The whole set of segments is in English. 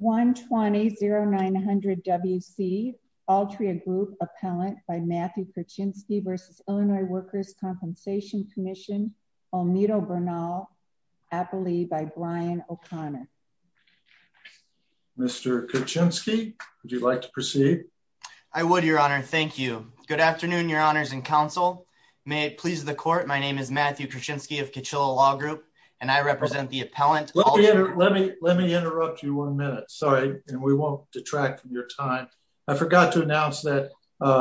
120-0900-WC Altria Group Appellant by Matthew Kuczynski v. Illinois Workers' Compensation Commission, Almedo Bernal, Appley by Brian O'Connor. Mr. Kuczynski, would you like to proceed? I would, your honor. Thank you. Good afternoon, your honors and counsel. May it please the court, my name is Matthew Kuczynski of Kachilla Law Group and I represent the appellant. Let me interrupt you one minute, sorry, and we won't detract from your time. I forgot to announce that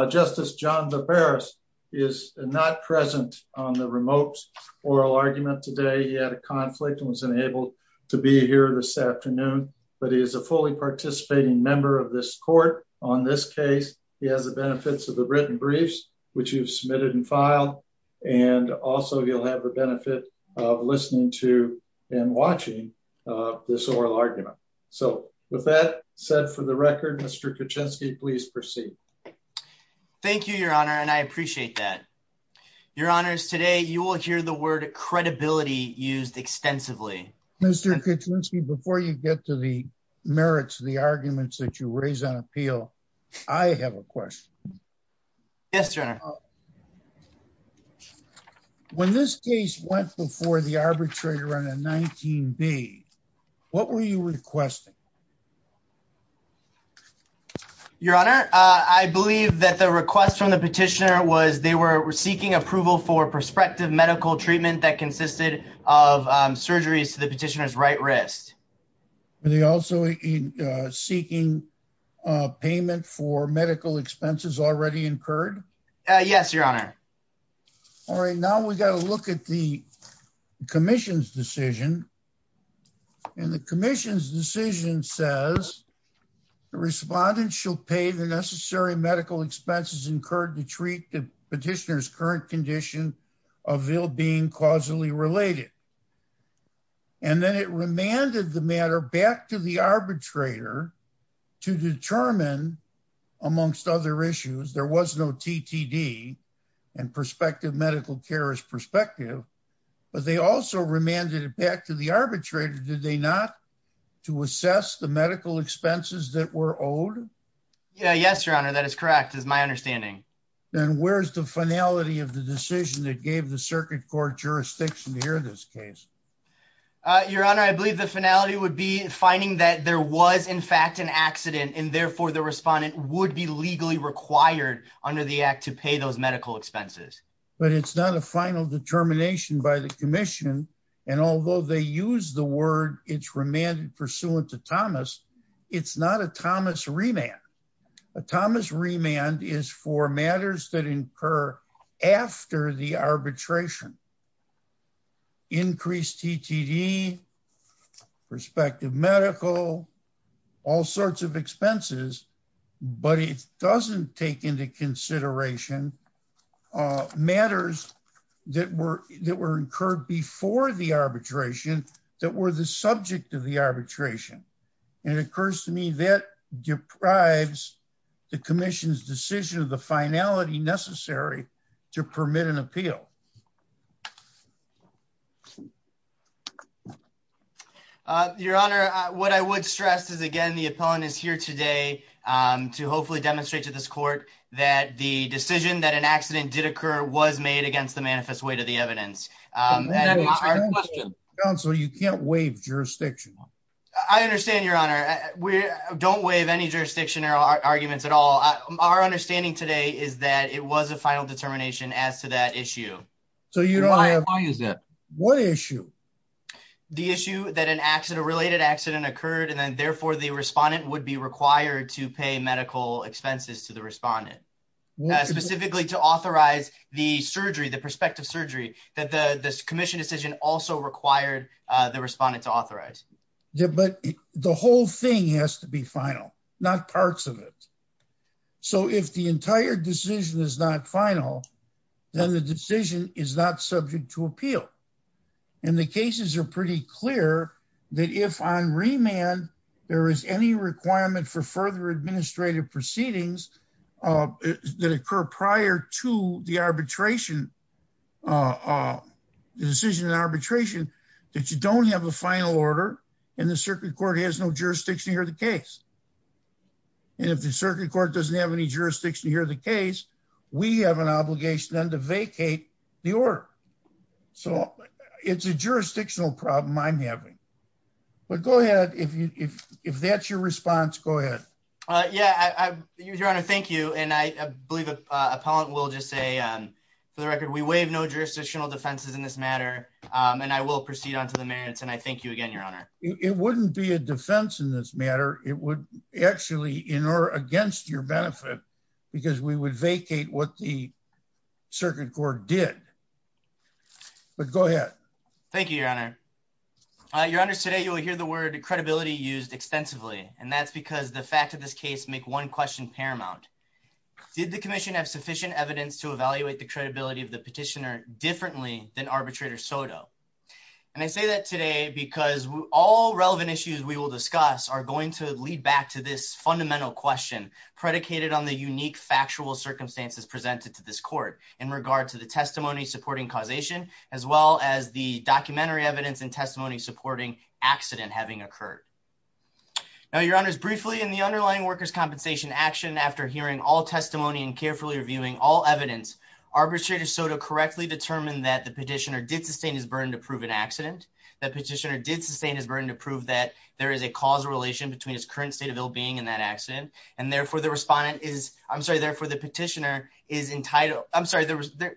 Justice John DeParis is not present on the remote oral argument today. He had a conflict and was unable to be here this afternoon, but he is a fully participating member of this court on this case. He has the benefits of the written briefs you've submitted and filed, and also he'll have the benefit of listening to and watching this oral argument. So with that said for the record, Mr. Kuczynski, please proceed. Thank you, your honor, and I appreciate that. Your honors, today you will hear the word credibility used extensively. Mr. Kuczynski, before you get to the merits of the arguments that you raise on appeal, I have a question. Yes, your honor. When this case went before the arbitrator on a 19B, what were you requesting? Your honor, I believe that the request from the petitioner was they were seeking approval for prospective medical treatment that consisted of surgeries to the petitioner's right wrist. Were they also seeking payment for medical expenses already incurred? Yes, your honor. All right, now we got to look at the commission's decision, and the commission's decision says the respondent shall pay the necessary medical expenses incurred to treat the matter back to the arbitrator to determine, amongst other issues, there was no TTD and prospective medical care is prospective, but they also remanded it back to the arbitrator, did they not, to assess the medical expenses that were owed? Yeah, yes, your honor, that is correct is my understanding. Then where's the finality of the decision that gave the circuit court jurisdiction here in this case? Your honor, I believe the finality would be finding that there was in fact an accident and therefore the respondent would be legally required under the act to pay those medical expenses. But it's not a final determination by the commission, and although they use the word it's remanded pursuant to Thomas, it's not a Thomas remand. A Thomas remand is for matters that incur after the arbitration increase TTD, prospective medical, all sorts of expenses, but it doesn't take into consideration matters that were incurred before the arbitration that were the subject of the arbitration. And it occurs to me that deprives the commission's decision of the finality necessary to permit an appeal. Your honor, what I would stress is again, the appellant is here today to hopefully demonstrate to this court that the decision that an accident did occur was made against the manifest weight of the evidence. Counsel, you can't waive jurisdiction. I understand your honor, we don't waive any jurisdiction or arguments at all. Our understanding today is that it was a final determination as to that issue. What issue? The issue that an accident related accident occurred and then therefore the respondent would be required to pay medical expenses to the respondent. Specifically to authorize the surgery, the prospective surgery that the commission decision also required the respondent to authorize. But the whole thing has to be final, not parts of it. So if the entire decision is not final, then the decision is not subject to appeal. And the cases are pretty clear that if on remand, there is any requirement for further administrative proceedings that occur prior to the arbitration, the decision in arbitration that you don't have a final order and the circuit court has no jurisdiction to hear the case. And if the circuit court doesn't have any jurisdiction to hear the case, we have an obligation then to vacate the order. So it's a jurisdictional problem I'm having, but go ahead. If you, if, if that's your response, go ahead. Uh, yeah, I, I, your honor, thank you. And I believe a, uh, appellant will just say, um, for the record, we waive no jurisdictional defenses in this matter. Um, and I will proceed onto the merits. And I thank you again, your honor. It wouldn't be a defense in this matter. It would actually in or against your benefit because we would vacate what the circuit court did, but go ahead. Thank you, your honor. Your honors today, you will hear the word credibility used extensively. And that's because the fact of this case, make one question paramount. Did the commission have sufficient evidence to evaluate the credibility of the petitioner differently than arbitrator Soto? And I say that today because all relevant issues we will discuss are going to lead back to this fundamental question predicated on the unique factual circumstances presented to this court in regard to the testimony supporting causation, as well as the documentary evidence and testimony supporting accident having occurred. Now your honors briefly in the underlying workers' compensation action, after hearing all testimony and carefully reviewing all evidence arbitrator Soto correctly determined that the petitioner did sustain his burden to prove an accident, that petitioner did sustain his burden to prove that there is a causal relation between his current state of ill being and that accident. And therefore the respondent is, I'm sorry, therefore the petitioner is entitled. I'm sorry.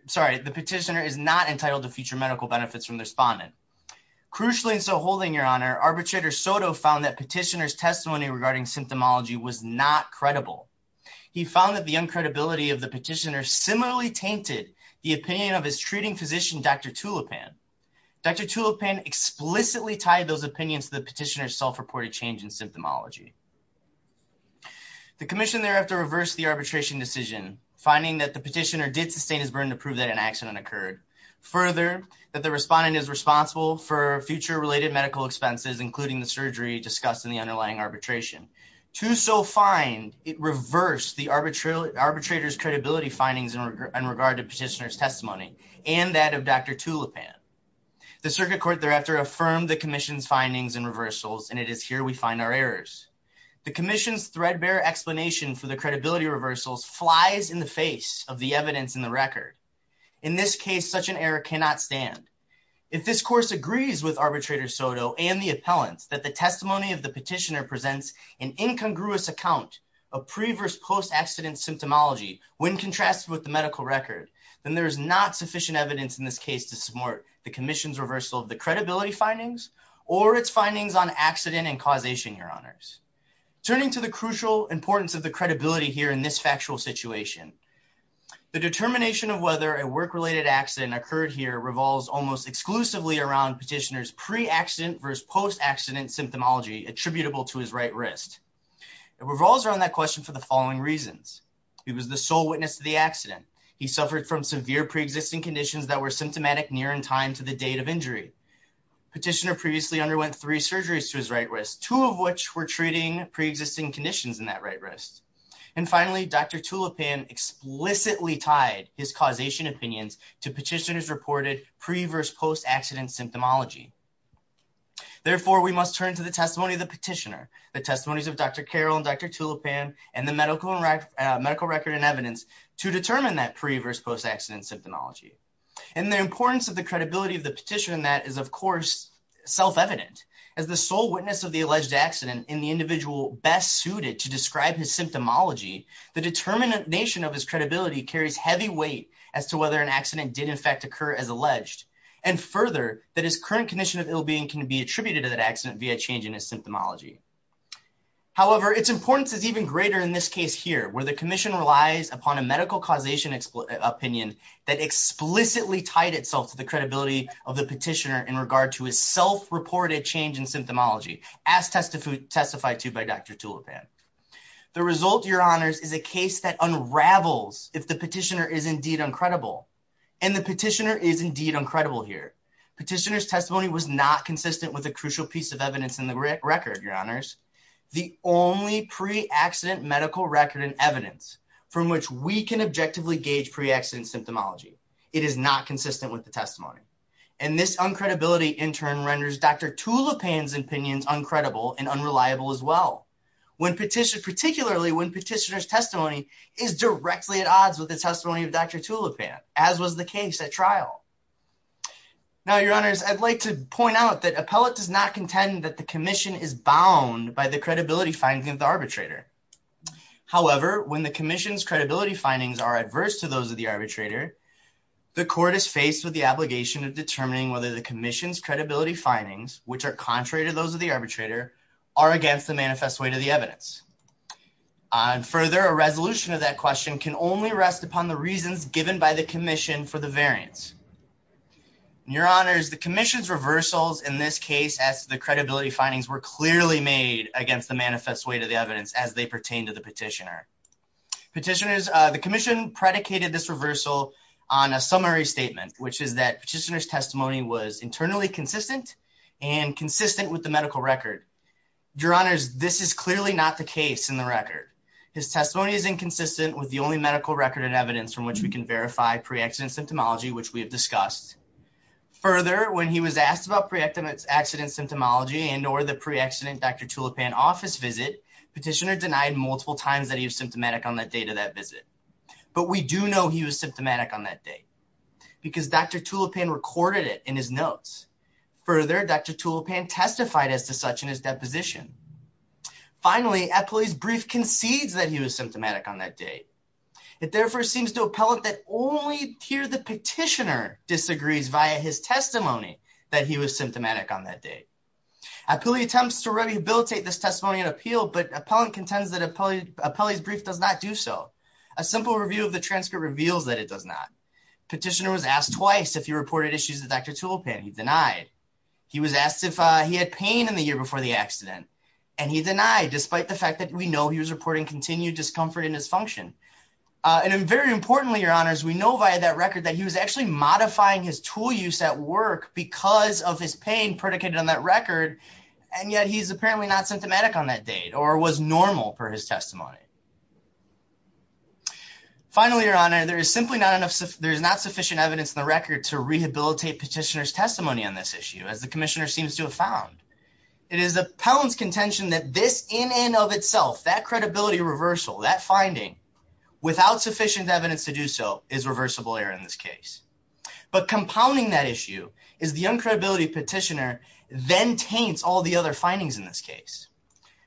Sorry. The petitioner is not entitled to future medical benefits from the respondent. Crucially. And so holding your honor arbitrator Soto found that petitioner's testimony regarding symptomology was not credible. He found that the uncredibility of the petitioner similarly tainted the opinion of his treating physician, Dr. Tulipan. Dr. Tulipan explicitly tied those opinions to the petitioner's self-reported change in symptomology. The commission thereafter reversed the arbitration decision, finding that the petitioner did sustain his burden to prove that an accident occurred. Further, that the respondent is responsible for future related medical expenses, including the surgery discussed in the underlying arbitration. To so find it reversed the arbitrator's credibility findings in regard to petitioner's Dr. Tulipan. The circuit court thereafter affirmed the commission's findings and reversals. And it is here we find our errors. The commission's threadbare explanation for the credibility reversals flies in the face of the evidence in the record. In this case, such an error cannot stand. If this course agrees with arbitrator Soto and the appellants that the testimony of the petitioner presents an incongruous account of previous post-accident symptomology, when sufficient evidence in this case to support the commission's reversal of the credibility findings or its findings on accident and causation, your honors. Turning to the crucial importance of the credibility here in this factual situation, the determination of whether a work-related accident occurred here revolves almost exclusively around petitioner's pre-accident versus post-accident symptomology attributable to his right wrist. It revolves around that question for the following reasons. He was the sole witness to the accident. He suffered from severe pre-existing conditions that were symptomatic near in time to the date of injury. Petitioner previously underwent three surgeries to his right wrist, two of which were treating pre-existing conditions in that right wrist. And finally, Dr. Tulipan explicitly tied his causation opinions to petitioner's reported pre-versus post-accident symptomology. Therefore, we must turn to the testimony of the petitioner, the testimonies of Dr. Carroll and Dr. Tulipan, and the medical record and evidence to determine that pre-versus post-accident symptomology. And the importance of the credibility of the petitioner in that is, of course, self-evident. As the sole witness of the alleged accident and the individual best suited to describe his symptomology, the determination of his credibility carries heavy weight as to whether an accident did in fact occur as alleged. And further, that his current condition of ill-being can be attributed to that accident via change in his symptomology. However, its importance is even greater in this case here, where the commission relies upon a medical causation opinion that explicitly tied itself to the credibility of the petitioner in regard to his self-reported change in symptomology, as testified to by Dr. Tulipan. The result, your honors, is a case that unravels if the petitioner is indeed uncredible. And the petitioner is indeed uncredible here. Petitioner's testimony was not consistent with a crucial piece of evidence in the record, your honors, the only pre-accident medical record and evidence from which we can objectively gauge pre-accident symptomology. It is not consistent with the testimony. And this uncredibility in turn renders Dr. Tulipan's opinions uncredible and unreliable as well, particularly when petitioner's testimony is directly at odds with the testimony of Dr. Tulipan, as was the case at trial. Now, your honors, I'd like to point out that appellate does not contend that the commission is bound by the credibility findings of the arbitrator. However, when the commission's credibility findings are adverse to those of the arbitrator, the court is faced with the obligation of determining whether the commission's credibility findings, which are contrary to those of the arbitrator, are against the manifest weight of the evidence. And further, a resolution of that question can only rest upon the reasons given by the commission for the variance. And your honors, the commission's reversals in this case, as the credibility findings were clearly made against the manifest weight of the evidence as they pertain to the petitioner. Petitioners, the commission predicated this reversal on a summary statement, which is that petitioner's testimony was internally consistent and consistent with the medical record. Your honors, this is clearly not the case in the record. His testimony is inconsistent with the only medical record and evidence from which we can verify pre-accident symptomology, which we have discussed. Further, when he was asked about pre-accident symptomology and or the pre-accident Dr. Tulipan office visit, petitioner denied multiple times that he was symptomatic on that date of that visit. But we do know he was symptomatic on that date because Dr. Tulipan recorded it in his notes. Further, Dr. Tulipan testified as to such in his deposition. Finally, appellee's brief concedes that he was symptomatic on that date. It therefore seems to appellate that only here the petitioner disagrees via his testimony that he was symptomatic on that date. Appellee attempts to rehabilitate this testimony and appeal, but appellant contends that appellee's brief does not do so. A simple review of the transcript reveals that it does not. Petitioner was asked twice if he reported issues that Dr. Tulipan denied. He was asked if he had pain in the year before the accident, and he denied despite the fact that we know he was reporting continued discomfort and dysfunction. And very importantly, your honors, we know via that record that he was actually modifying his tool use at work because of his pain predicated on that record. And yet he's apparently not symptomatic on that date or was normal for his testimony. Finally, your honor, there is simply not enough. There is not sufficient evidence in the record to rehabilitate petitioner's testimony on this issue, as the commissioner seems to have found. It is appellant's contention that this in and of itself, that credibility reversal, that finding without sufficient evidence to do so is reversible error in this case. But compounding that issue is the uncredibility petitioner then taints all the other findings in this case.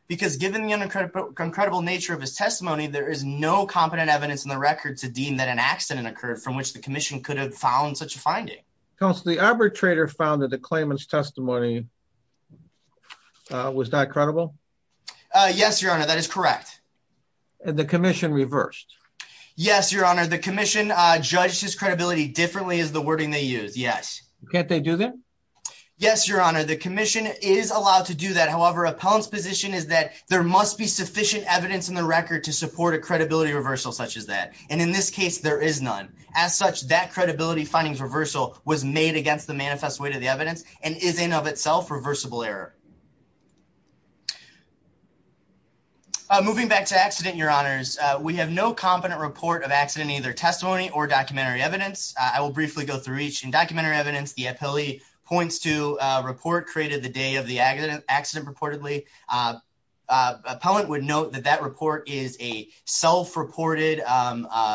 Because given the uncredible nature of his testimony, there is no competent evidence in the record to deem that an accident occurred from which the commission could have found such a finding. Counsel, the arbitrator found that the claimant's testimony was not credible. Yes, your honor, that is correct. The commission reversed. Yes, your honor. The commission judged his credibility differently as the wording they use. Yes. Can't they do that? Yes, your honor. The commission is allowed to do that. However, appellant's position is that there must be sufficient evidence in the record to support a credibility reversal such as that. And in this case, there is none. As such, that credibility findings reversal was made against the manifest weight of the evidence and is in of itself reversible error. Moving back to accident, your honors, we have no competent report of accident, either testimony or documentary evidence. I will briefly go through each in documentary evidence. The appellee points to report created the day of the accident accident reportedly. Appellant would note that that report is a self-reported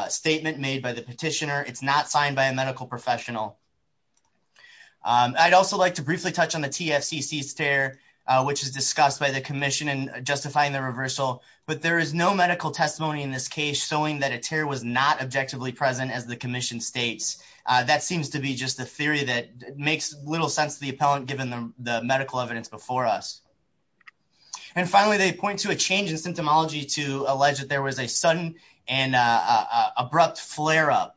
statement made by the petitioner. It's not signed by a medical professional. I'd also like to briefly touch on the TFCC stare. Which is discussed by the commission and justifying the reversal. But there is no medical testimony in this case, showing that a tear was not objectively present as the commission states. That seems to be just a theory that makes little sense to the appellant, given the medical evidence before us. And finally, they point to a change in symptomology to allege that there was a sudden and abrupt flare up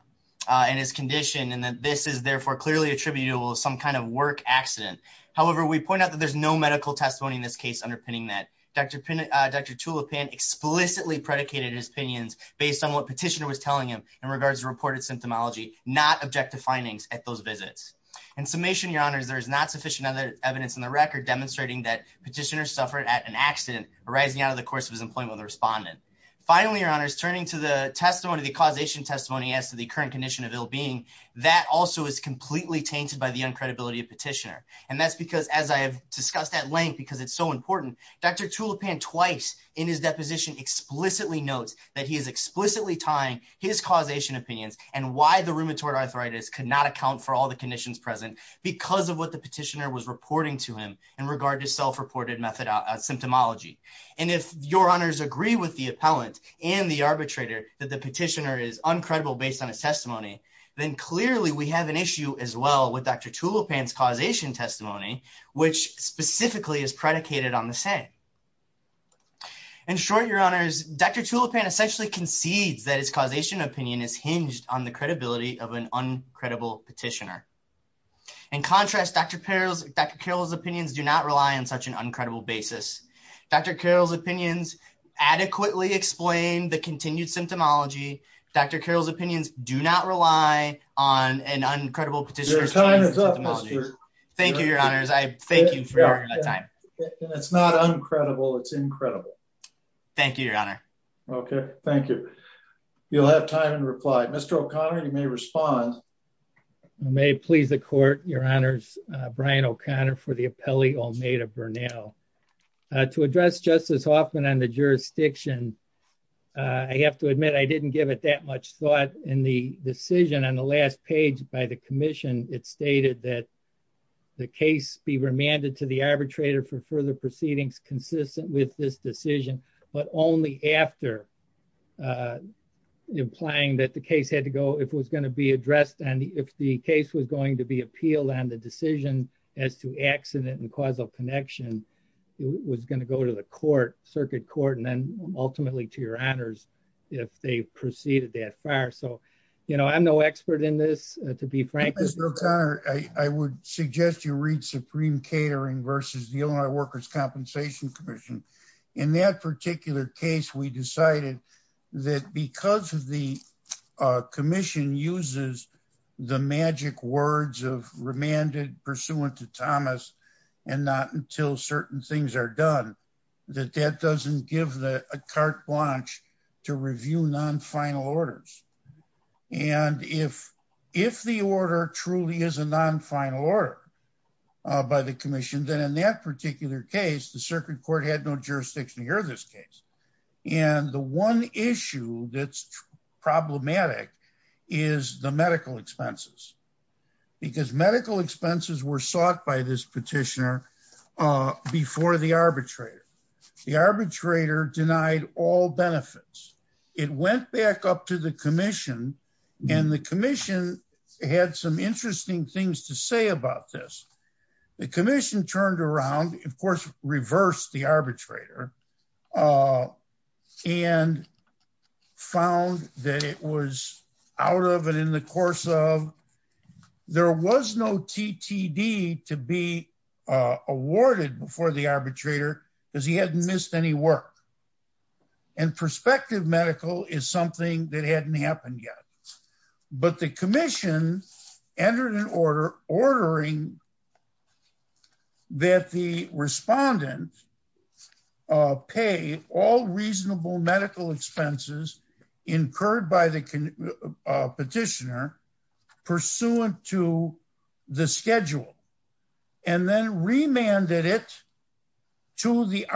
in his condition. And that this is therefore clearly attributable to some kind of work accident. However, we point out that there's no medical testimony in this case, underpinning that Dr. Tulipan explicitly predicated his opinions based on what petitioner was telling him in regards to reported symptomology, not objective findings at those visits. In summation, your honors, there is not sufficient evidence in the record demonstrating that petitioner suffered at an accident arising out of the course of his employment with a respondent. Finally, your honors, turning to the testimony, the causation testimony as to the current condition of ill being, that also is completely tainted by the uncredibility of petitioner. And that's because as I have discussed at length, because it's so important, Dr. Tulipan twice in his deposition explicitly notes that he is explicitly tying his causation opinions and why the rheumatoid arthritis could not account for all the conditions present because of what the petitioner was reporting to him in regard to self-reported symptomology. And if your honors agree with the appellant and the arbitrator that the petitioner is uncredible based on his testimony, then clearly we have an issue as well with Dr. Tulipan's causation testimony, which specifically is predicated on the same. In short, your honors, Dr. Tulipan essentially concedes that his causation opinion is hinged on the credibility of an uncredible petitioner. In contrast, Dr. Carroll's opinions do not rely on such an uncredible basis. Dr. Carroll's opinions adequately explain the continued symptomology. Dr. Carroll's opinions do not rely on an uncredible petitioner's- Your time is up, Mr.- Thank you, your honors. I thank you for your time. It's not uncredible, it's incredible. Thank you, your honor. Okay, thank you. You'll have time and reply. Mr. O'Connor, you may respond. I may please the court, your honors. Brian O'Connor for the appellee, Olmeda Bernal. To address Justice Hoffman on the jurisdiction, I have to admit I didn't give it that much thought in the decision on the last page by the commission. It stated that the case be remanded to the arbitrator for further proceedings consistent with this decision, but only after implying that the case had to go, if it was going to be addressed, and if the case was going to be appealed on the decision as to accident and causal connection, it was going to go to the court, circuit court, and then ultimately to your honors if they proceeded that far. I'm no expert in this, to be frank. Mr. O'Connor, I would suggest you read Supreme Catering versus the Illinois Workers' Compensation Commission. In that particular case, we decided that because the commission uses the magic words of remanded pursuant to Thomas and not until certain things are done, that that doesn't give a carte blanche to review non-final orders. And if the order truly is a non-final order by the commission, then in that particular case, the circuit court had no jurisdiction to hear this case. And the one issue that's problematic is the medical expenses, because medical expenses were sought by this petitioner before the arbitrator. The arbitrator denied all benefits. It went back up to the commission, and the commission had some interesting things to say about this. The commission turned around, of course, reversed the arbitrator, and found that it was out of it in the course of there was no TTD to be awarded before the arbitrator because he hadn't missed any work. And prospective medical is something that hadn't happened yet. But the commission entered an order ordering that the respondent pay all reasonable medical expenses incurred by the petitioner pursuant to the schedule, and then remanded it to the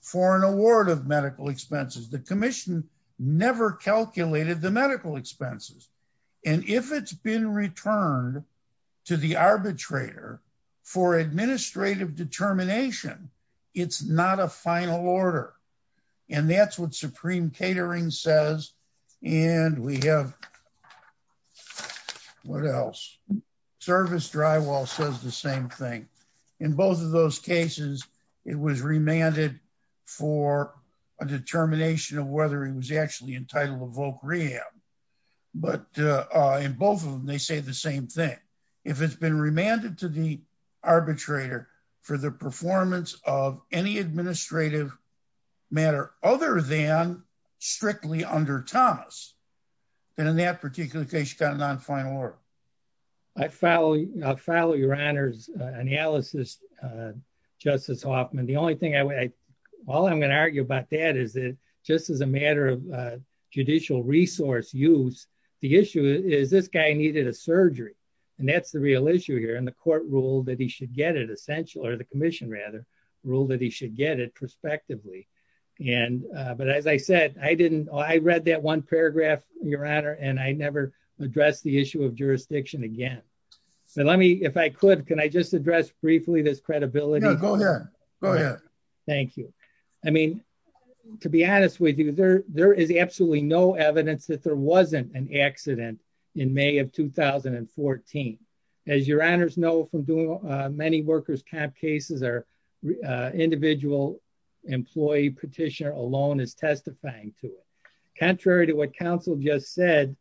for an award of medical expenses. The commission never calculated the medical expenses. And if it's been returned to the arbitrator for administrative determination, it's not a final order. And that's what supreme catering says. And we have what else? Service drywall says the same thing. In both of those cases, it was remanded for a determination of whether he was actually entitled to voc rehab. But in both of them, they say the same thing. If it's been remanded to the arbitrator for the performance of any administrative matter other than strictly under Thomas, then in that particular case, you got a nonfinal order. I follow your honor's analysis, Justice Hoffman. The only thing I all I'm going to argue about that is that just as a matter of judicial resource use, the issue is this guy needed a surgery. And that's the real issue here. And the court ruled that he should get it essential or the commission rather ruled that he should get it prospectively. And but as I said, I didn't I read that one paragraph, your honor, and I never addressed the issue of jurisdiction again. So let me if I could, can I just address briefly this credibility? Go ahead. Go ahead. Thank you. I mean, to be honest with you, there there is absolutely no evidence that there wasn't an accident in May of 2014. As your honors know from doing many workers camp cases are individual employee petitioner alone is testifying to it. What counsel just said,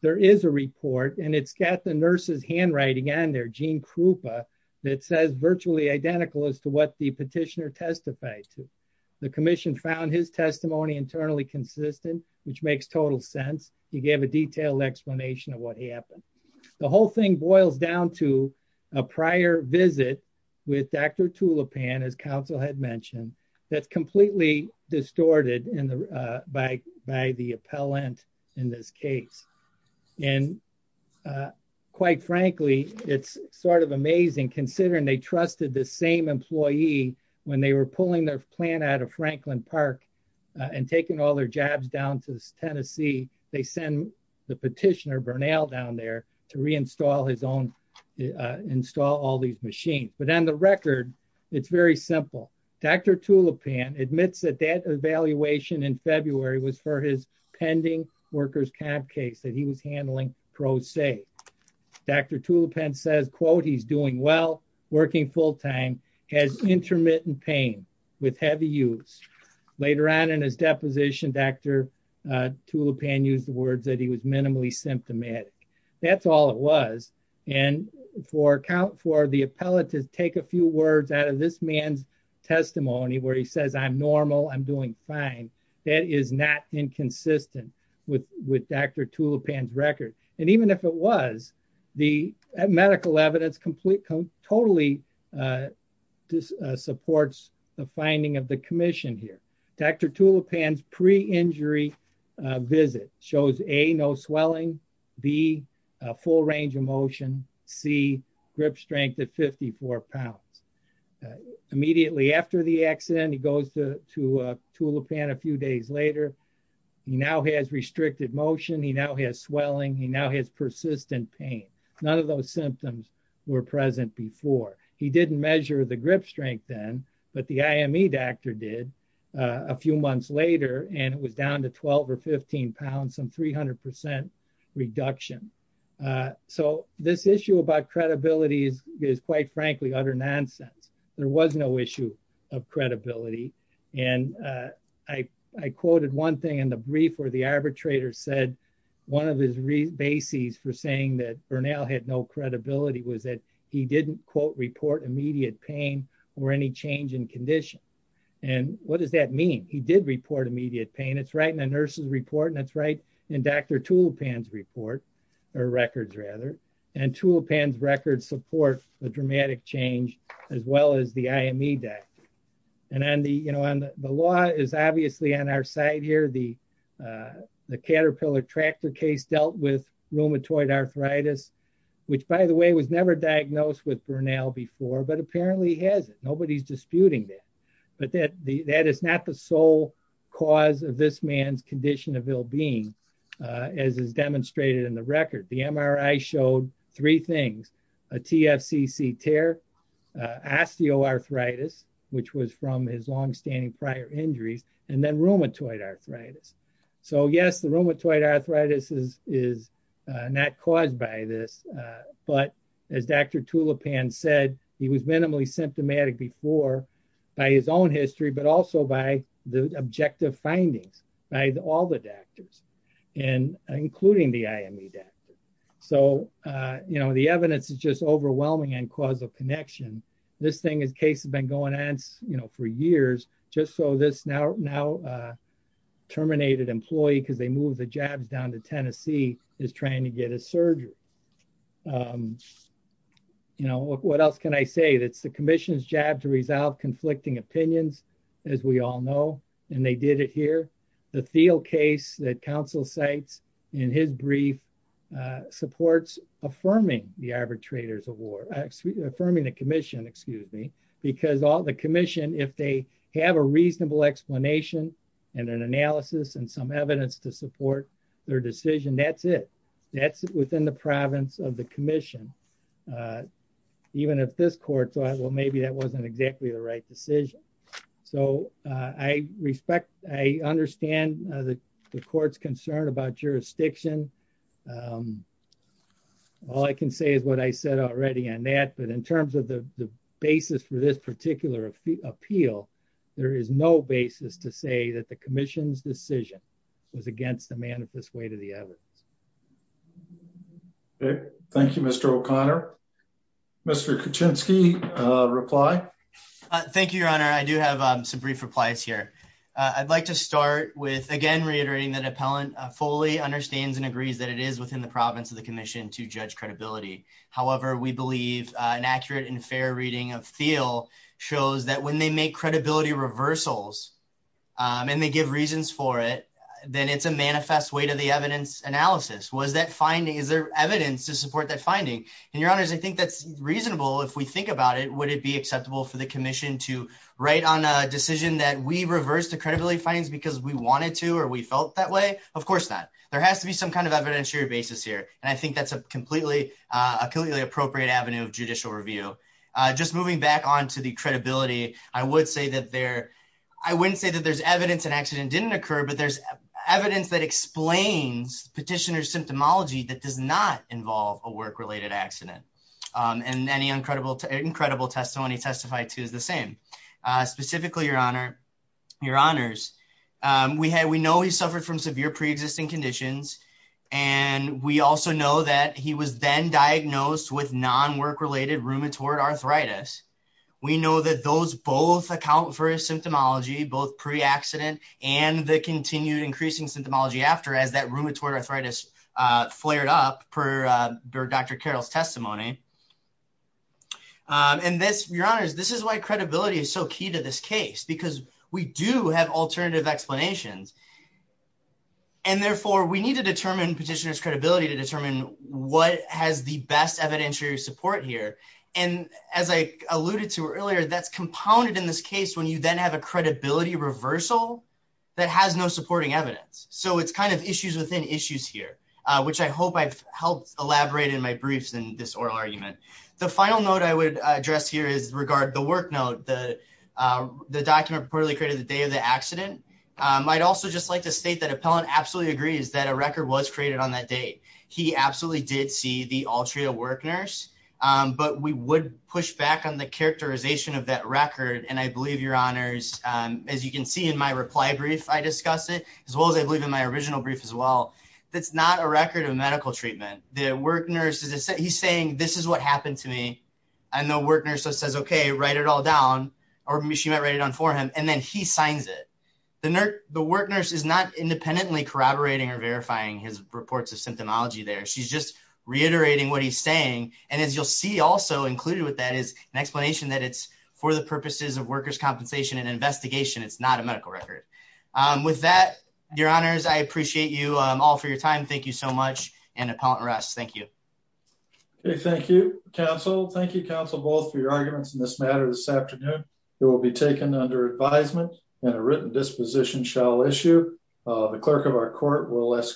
there is a report and it's got the nurses handwriting and their gene Krupa that says virtually identical as to what the petitioner testified to. The commission found his testimony internally consistent, which makes total sense. He gave a detailed explanation of what happened. The whole thing boils down to a prior visit with Dr. Council had mentioned that's completely distorted in the by by the appellant in this case. And quite frankly, it's sort of amazing considering they trusted the same employee when they were pulling their plan out of Franklin Park and taking all their jobs down to Tennessee. They send the petitioner Bernal down there to reinstall his own install all these machines. But on the record, it's very simple. Dr. Tulipan admits that that evaluation in February was for his pending workers camp case that he was handling pro se. Dr. Tulipan says, quote, he's doing well, working full time has intermittent pain with heavy use. Later on in his deposition, Dr. Tulipan used the words that he was minimally symptomatic. That's all it was. And for account for the appellate to take a few words out of this man's testimony where he says, I'm normal, I'm doing fine. That is not inconsistent with with Dr. Tulipan's record. And even if it was the medical evidence complete, totally supports the finding of the commission here. Dr. Tulipan's pre-injury visit shows A, no swelling, B, full range of motion, C, grip strength at 54 pounds. Immediately after the accident, he goes to Tulipan a few days later. He now has restricted motion. He now has swelling. He now has persistent pain. None of those symptoms were present before. He didn't measure the grip strength then, but the IME doctor did a few months later, and it was down to 12 or 15 pounds, some 300 percent reduction. So this issue about credibility is quite frankly, utter nonsense. There was no issue of credibility. And I quoted one thing in the brief where the arbitrator said one of his bases for saying that Bernal had no credibility was that he didn't, quote, report immediate pain or any change in condition. And what does that mean? He did report immediate pain. It's right in the nurse's report, and it's right in Dr. Tulipan's report, or records rather. And Tulipan's records support the dramatic change as well as the IME doctor. And the law is obviously on our side here. The Caterpillar tractor case dealt with rheumatoid arthritis, which by the way, was never diagnosed with Bernal before, but apparently has. Nobody's disputing that. But that is not the sole cause of this man's condition of ill-being, as is demonstrated in the record. The MRI showed three things, a TFCC tear, osteoarthritis, which was from his longstanding prior injuries, and then rheumatoid arthritis. So yes, the rheumatoid arthritis is not caused by this. But as Dr. Tulipan said, he was minimally symptomatic before by his own history, but also by the objective findings by all the doctors, including the IME doctor. So the evidence is just overwhelming and cause of connection. This case has been going on for years, just so this now terminated employee, because they moved the jabs down to Tennessee, is trying to get a surgery. What else can I say? It's the commission's job to resolve conflicting opinions, as we all know, and they did it here. The Thiel case that counsel cites in his brief supports affirming the average trader's award, affirming the commission, excuse me, because all the commission, if they have a reasonable explanation and an analysis and some evidence to support their decision, that's it. That's within the province of the commission. Even if this court thought, well, maybe that wasn't exactly the right decision. So I respect, I understand the court's concern about jurisdiction. Um, all I can say is what I said already on that, but in terms of the basis for this particular appeal, there is no basis to say that the commission's decision was against the manifest way to the evidence. Okay. Thank you, Mr. O'Connor. Mr. Kuczynski, uh, reply. Thank you, your honor. I do have some brief replies here. I'd like to start with again, reiterating that appellant fully understands and agrees that it is within the province of the commission to judge credibility. However, we believe an accurate and fair reading of Thiel shows that when they make credibility reversals, um, and they give reasons for it, then it's a manifest way to the evidence analysis. Was that finding, is there evidence to support that finding? And your honors, I think that's reasonable. If we think about it, would it be acceptable for the commission to write on a decision that we reversed the credibility findings because we wanted to, or we felt that way? Of course not. There has to be some kind of evidentiary basis here. And I think that's a completely, uh, a completely appropriate avenue of judicial review. Uh, just moving back onto the credibility, I would say that there, I wouldn't say that there's evidence and accident didn't occur, but there's evidence that explains petitioner symptomology that does not involve a work-related accident. Um, and any incredible, incredible testimony testified to is the same, uh, specifically your honor, your honors. Um, we had, we know he suffered from severe pre-existing conditions and we also know that he was then diagnosed with non-work-related rheumatoid arthritis. We know that those both account for his symptomology, both pre-accident and the continued increasing symptomology after as that rheumatoid arthritis, uh, flared up per, uh, Dr. Carroll's testimony. Um, and this, your honors, this is why credibility is so key to this case because we do have alternative explanations and therefore we need to determine petitioner's credibility to determine what has the best evidentiary support here. And as I alluded to earlier, that's compounded in this case when you then have a credibility reversal that has no supporting evidence. So it's kind of issues within issues here, uh, which I hope I've helped elaborate in my briefs in this oral argument. The final note I would address here is regard the work note, the, uh, the document reportedly created the day of the accident. Um, I'd also just like to state that appellant absolutely agrees that a record was created on that date. He absolutely did see the Altria work nurse, um, but we would push back on the characterization of that record. And I believe your honors, um, as you can see in my reply brief, I discussed it as well as I believe in my original brief as well. That's not a record of medical treatment. The work nurse is, he's saying, this is what happened to me. I know work nurse says, okay, write it all down or maybe she might write it on for him. And then he signs it. The nurse, the work nurse is not independently corroborating or verifying his reports of symptomology there. She's just reiterating what he's saying. And as you'll see also included with that is an explanation that it's for the purposes of workers' compensation and investigation. It's not a medical record. Um, with that, your honors, I appreciate you all for your time. Thank you so much. And appellant rest. Thank you. Okay. Thank you. Counsel. Thank you. Counsel both for your arguments in this matter. This afternoon, it will be taken under advisement and a written disposition shall issue. Uh, the clerk of our court will ask.